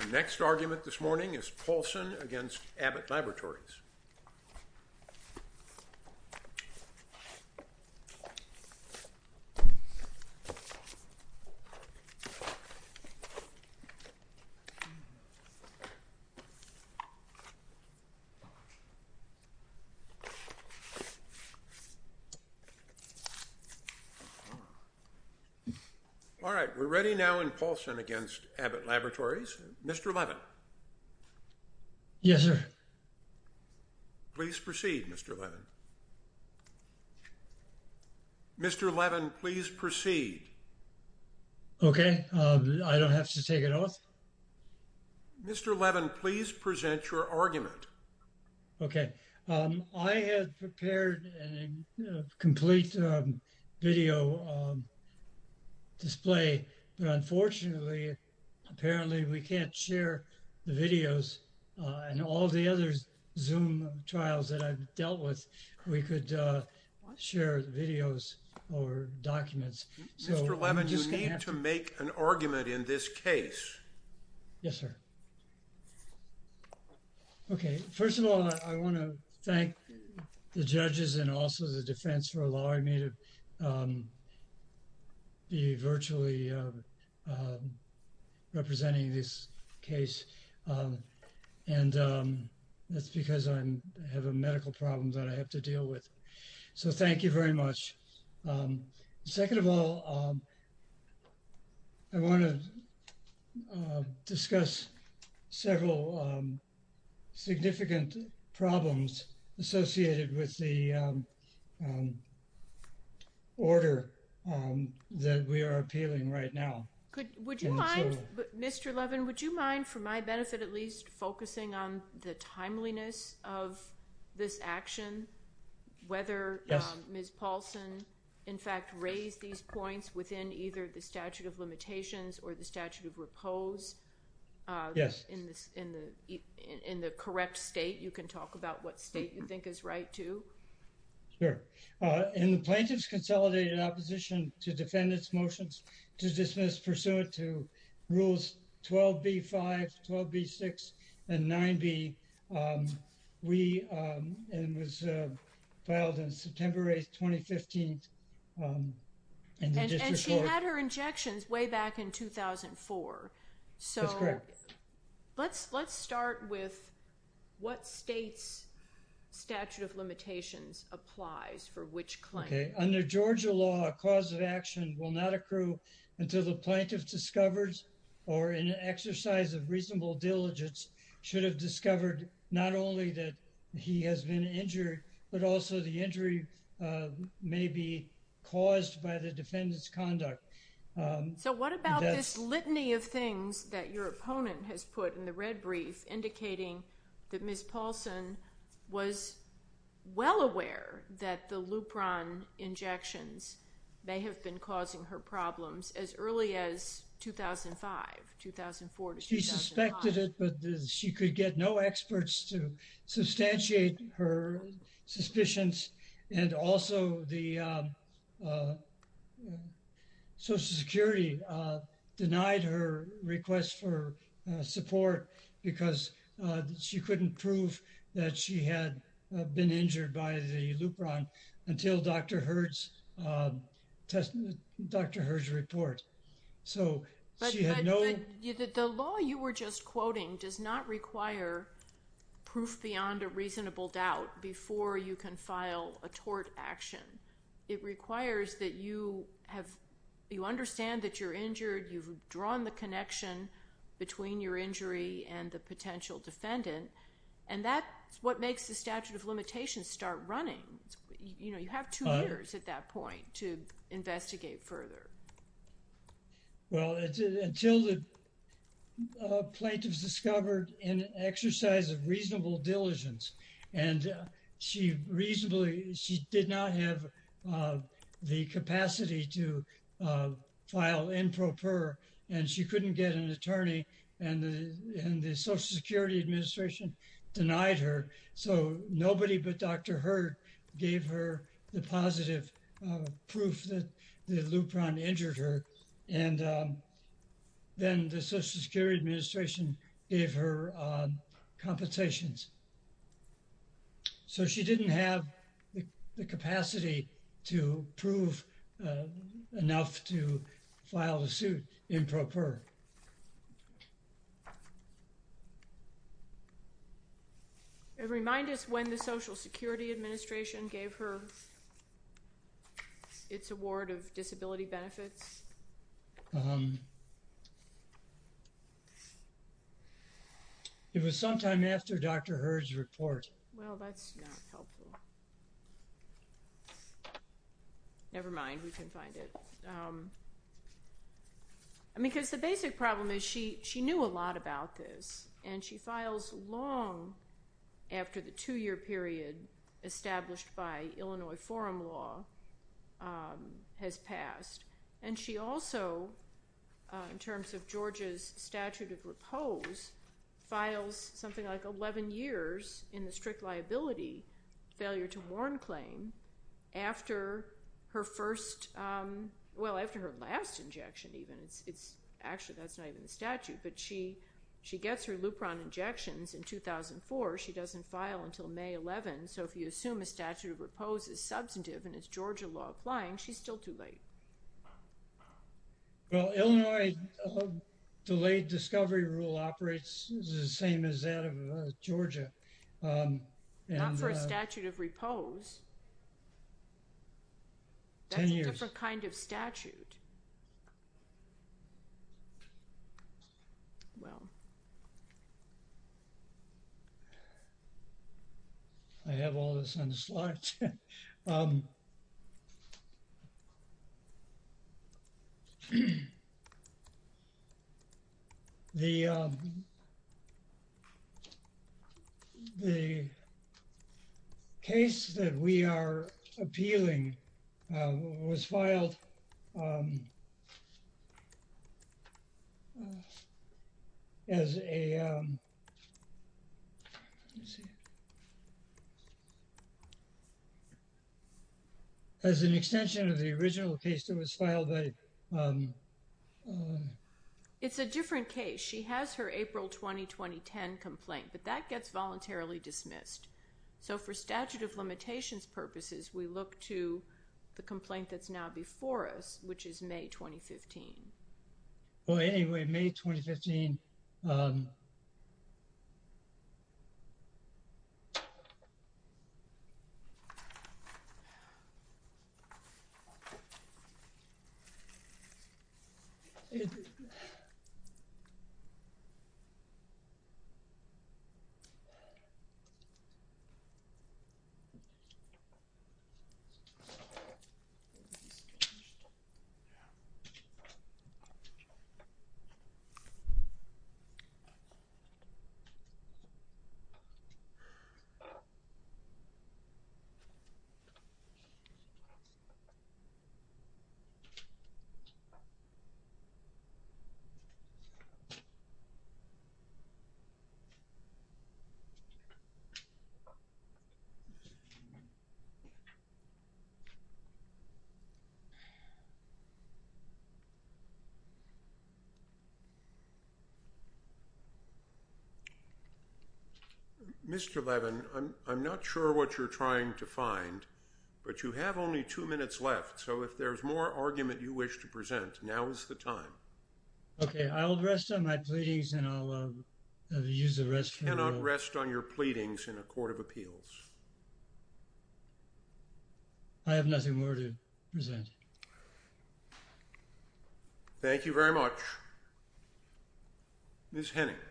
Our next argument this morning is Paulsen v. Abbott Laboratories. All right, we're ready now in Paulsen against Abbott Laboratories. Mr. Levin. Yes, sir. Please proceed, Mr. Levin. Mr. Levin, please proceed. Okay, I don't have to take it off. Mr. Levin, please present your argument. Okay, I have prepared a complete video display, but unfortunately, apparently we can't share the videos and all the other zoom trials that I've dealt with. We could share the videos or documents. Mr. Levin, you need to make an argument in this case. Yes, sir. Okay, first of all, I want to thank the judges and also the defense for allowing me to be virtually representing this case. And that's because I have a medical problem that I have to deal with. So thank you very much. Second of all, I want to discuss several significant problems associated with the order that we are appealing right now. Would you mind, Mr. Levin, would you mind, for my benefit at least, focusing on the timeliness of this action? Whether Ms. Paulsen, in fact, raised these points within either the statute of limitations or the statute of repose? Yes. In the correct state, you can talk about what state you think is right, too. Sure. In the Plaintiff's Consolidated Opposition to Defendant's Motions to Dismiss Pursuant to Rules 12b-5, 12b-6, and 9b, we, and it was filed on September 8, 2015. And she had her injections way back in 2004. So let's start with what state's statute of limitations applies for which claim. Okay. Under Georgia law, a cause of action will not accrue until the plaintiff discovers or in an exercise of reasonable diligence should have discovered not only that he has been injured, but also the injury may be caused by the defendant's conduct. So what about this litany of things that your opponent has put in the red brief indicating that Ms. Paulsen was well aware that the Lupron injections may have been causing her problems as early as 2005, 2004 to 2005? She suspected it, but she could get no experts to substantiate her suspicions. And also the Social Security denied her request for support because she couldn't prove that she had been injured by the Lupron until Dr. Hurd's report. But the law you were just quoting does not require proof beyond a reasonable doubt before you can file a tort action. It requires that you have, you understand that you're injured, you've drawn the connection between your injury and the potential defendant, and that's what makes the statute of limitations start running. You know, you have two years at that point to investigate further. Well, until the plaintiffs discovered in an exercise of reasonable diligence, and she reasonably, she did not have the capacity to file improper, and she couldn't get an attorney, and the Social Security Administration denied her. So nobody but Dr. Hurd gave her the positive proof that the Lupron injured her. And then the Social Security Administration gave her compensations. So she didn't have the capacity to prove enough to file a suit improper. Remind us when the Social Security Administration gave her its award of disability benefits. It was sometime after Dr. Hurd's report. Well, that's not helpful. Never mind, we can find it. I mean, because the basic problem is she knew a lot about this, and she files long after the two-year period established by Illinois forum law has passed. And she also, in terms of Georgia's statute of repose, files something like 11 years in the strict liability failure to warn claim after her first, well, after her last injection even. Actually, that's not even the statute, but she gets her Lupron injections in 2004. She doesn't file until May 11, so if you assume a statute of repose is substantive and it's Georgia law applying, she's still too late. Well, Illinois delayed discovery rule operates the same as that of Georgia. Not for a statute of repose. That's a different kind of statute. Well. I have all this on the slide. The. The. case that we are appealing was filed. As a. Let's see. As an extension of the original case that was filed by. It's a different case. She has her April 20, 2010 complaint, but that gets voluntarily dismissed. So for statute of limitations purposes, we look to the complaint that's now before us, which is May 2015. Well, anyway, May 2015. So. It. Yeah. Oh. Mr. Levin, I'm not sure what you're trying to find, but you have only two minutes left. So if there's more argument, you wish to present now is the time. Okay, I'll rest on my pleadings and I'll use the rest. Rest on your pleadings in a court of appeals. I have nothing more to present. Thank you very much. Miss Henning. Thank you.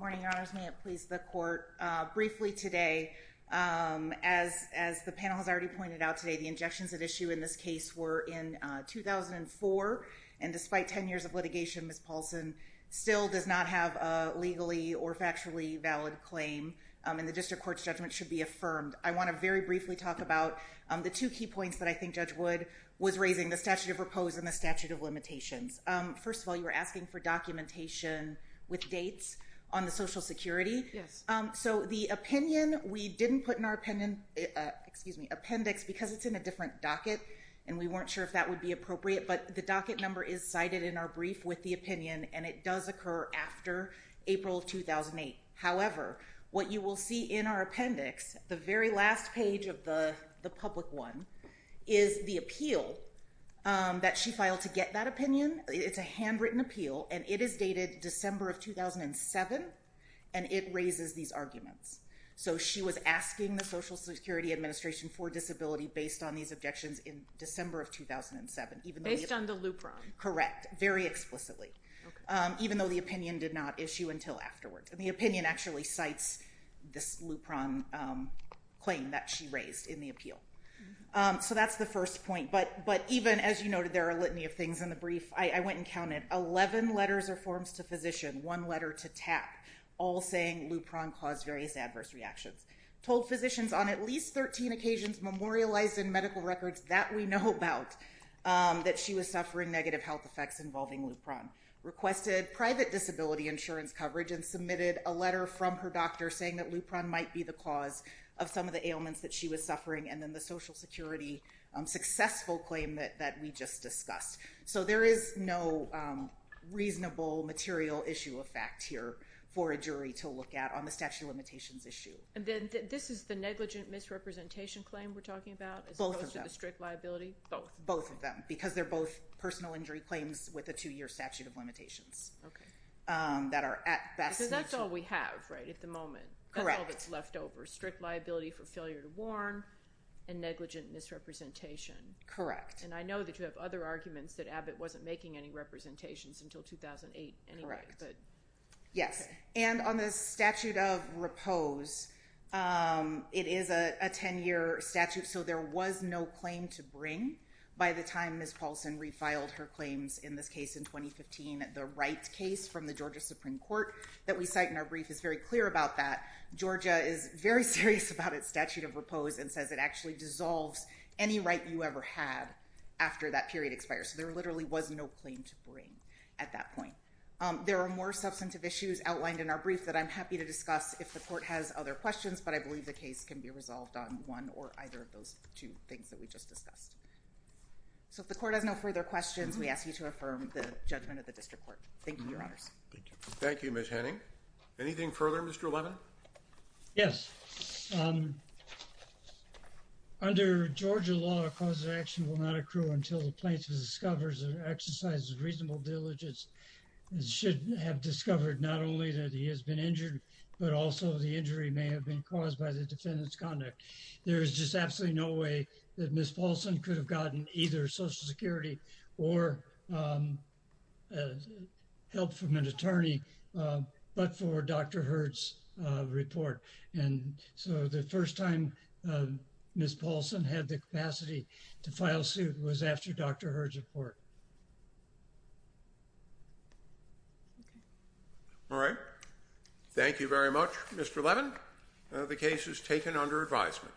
Morning, your honors. May it please the court briefly today, as as the panel has already pointed out today, the injections at issue in this case were in 2004. And despite 10 years of litigation, Miss Paulson still does not have a legally or factually valid claim. And the district court's judgment should be affirmed. I want to very briefly talk about the two key points that I think Judge Wood was raising the statute of repose and the statute of limitations. First of all, you were asking for documentation with dates on the Social Security. Yes. So the opinion we didn't put in our opinion, excuse me, appendix, because it's in a different docket and we weren't sure if that would be appropriate. But the docket number is cited in our brief with the opinion. And it does occur after April 2008. However, what you will see in our appendix, the very last page of the public one, is the appeal that she filed to get that opinion. It's a handwritten appeal and it is dated December of 2007. And it raises these arguments. So she was asking the Social Security Administration for disability based on these objections in December of 2007. Based on the loophole. Correct. Very explicitly. Even though the opinion did not issue until afterwards. And the opinion actually cites this Lupron claim that she raised in the appeal. So that's the first point. But even, as you noted, there are a litany of things in the brief. I went and counted. Eleven letters or forms to physician. One letter to TAP. All saying Lupron caused various adverse reactions. Told physicians on at least 13 occasions memorialized in medical records that we know about that she was suffering negative health effects involving Lupron. Requested private disability insurance coverage and submitted a letter from her doctor saying that Lupron might be the cause of some of the ailments that she was suffering. And then the Social Security successful claim that we just discussed. So there is no reasonable material issue of fact here for a jury to look at on the statute of limitations issue. And then this is the negligent misrepresentation claim we're talking about? Both of them. As opposed to the strict liability? Both. Both of them. Because they're both personal injury claims with a two-year statute of limitations. Okay. That are at best. Because that's all we have, right, at the moment. Correct. That's all that's left over. Strict liability for failure to warn and negligent misrepresentation. Correct. And I know that you have other arguments that Abbott wasn't making any representations until 2008 anyway. Correct. Yes. And on the statute of repose, it is a 10-year statute. So there was no claim to bring by the time Ms. Paulson refiled her claims in this case in 2015. The right case from the Georgia Supreme Court that we cite in our brief is very clear about that. Georgia is very serious about its statute of repose and says it actually dissolves any right you ever had after that period expires. So there literally was no claim to bring at that point. There are more substantive issues outlined in our brief that I'm happy to discuss if the court has other questions, but I believe the case can be resolved on one or either of those two things that we just discussed. So if the court has no further questions, we ask you to affirm the judgment of the district court. Thank you, Your Honors. Thank you, Ms. Henning. Anything further, Mr. Levin? Yes. Under Georgia law, a cause of action will not accrue until the plaintiff discovers or exercises reasonable diligence and should have discovered not only that he has been injured, but also the injury may have been caused by the defendant's conduct. There is just absolutely no way that Ms. Paulson could have gotten either Social Security or help from an attorney, but for Dr. Hurd's report. And so the first time Ms. Paulson had the capacity to file suit was after Dr. Hurd's report. All right. Thank you very much, Mr. Levin. The case is taken under advisement.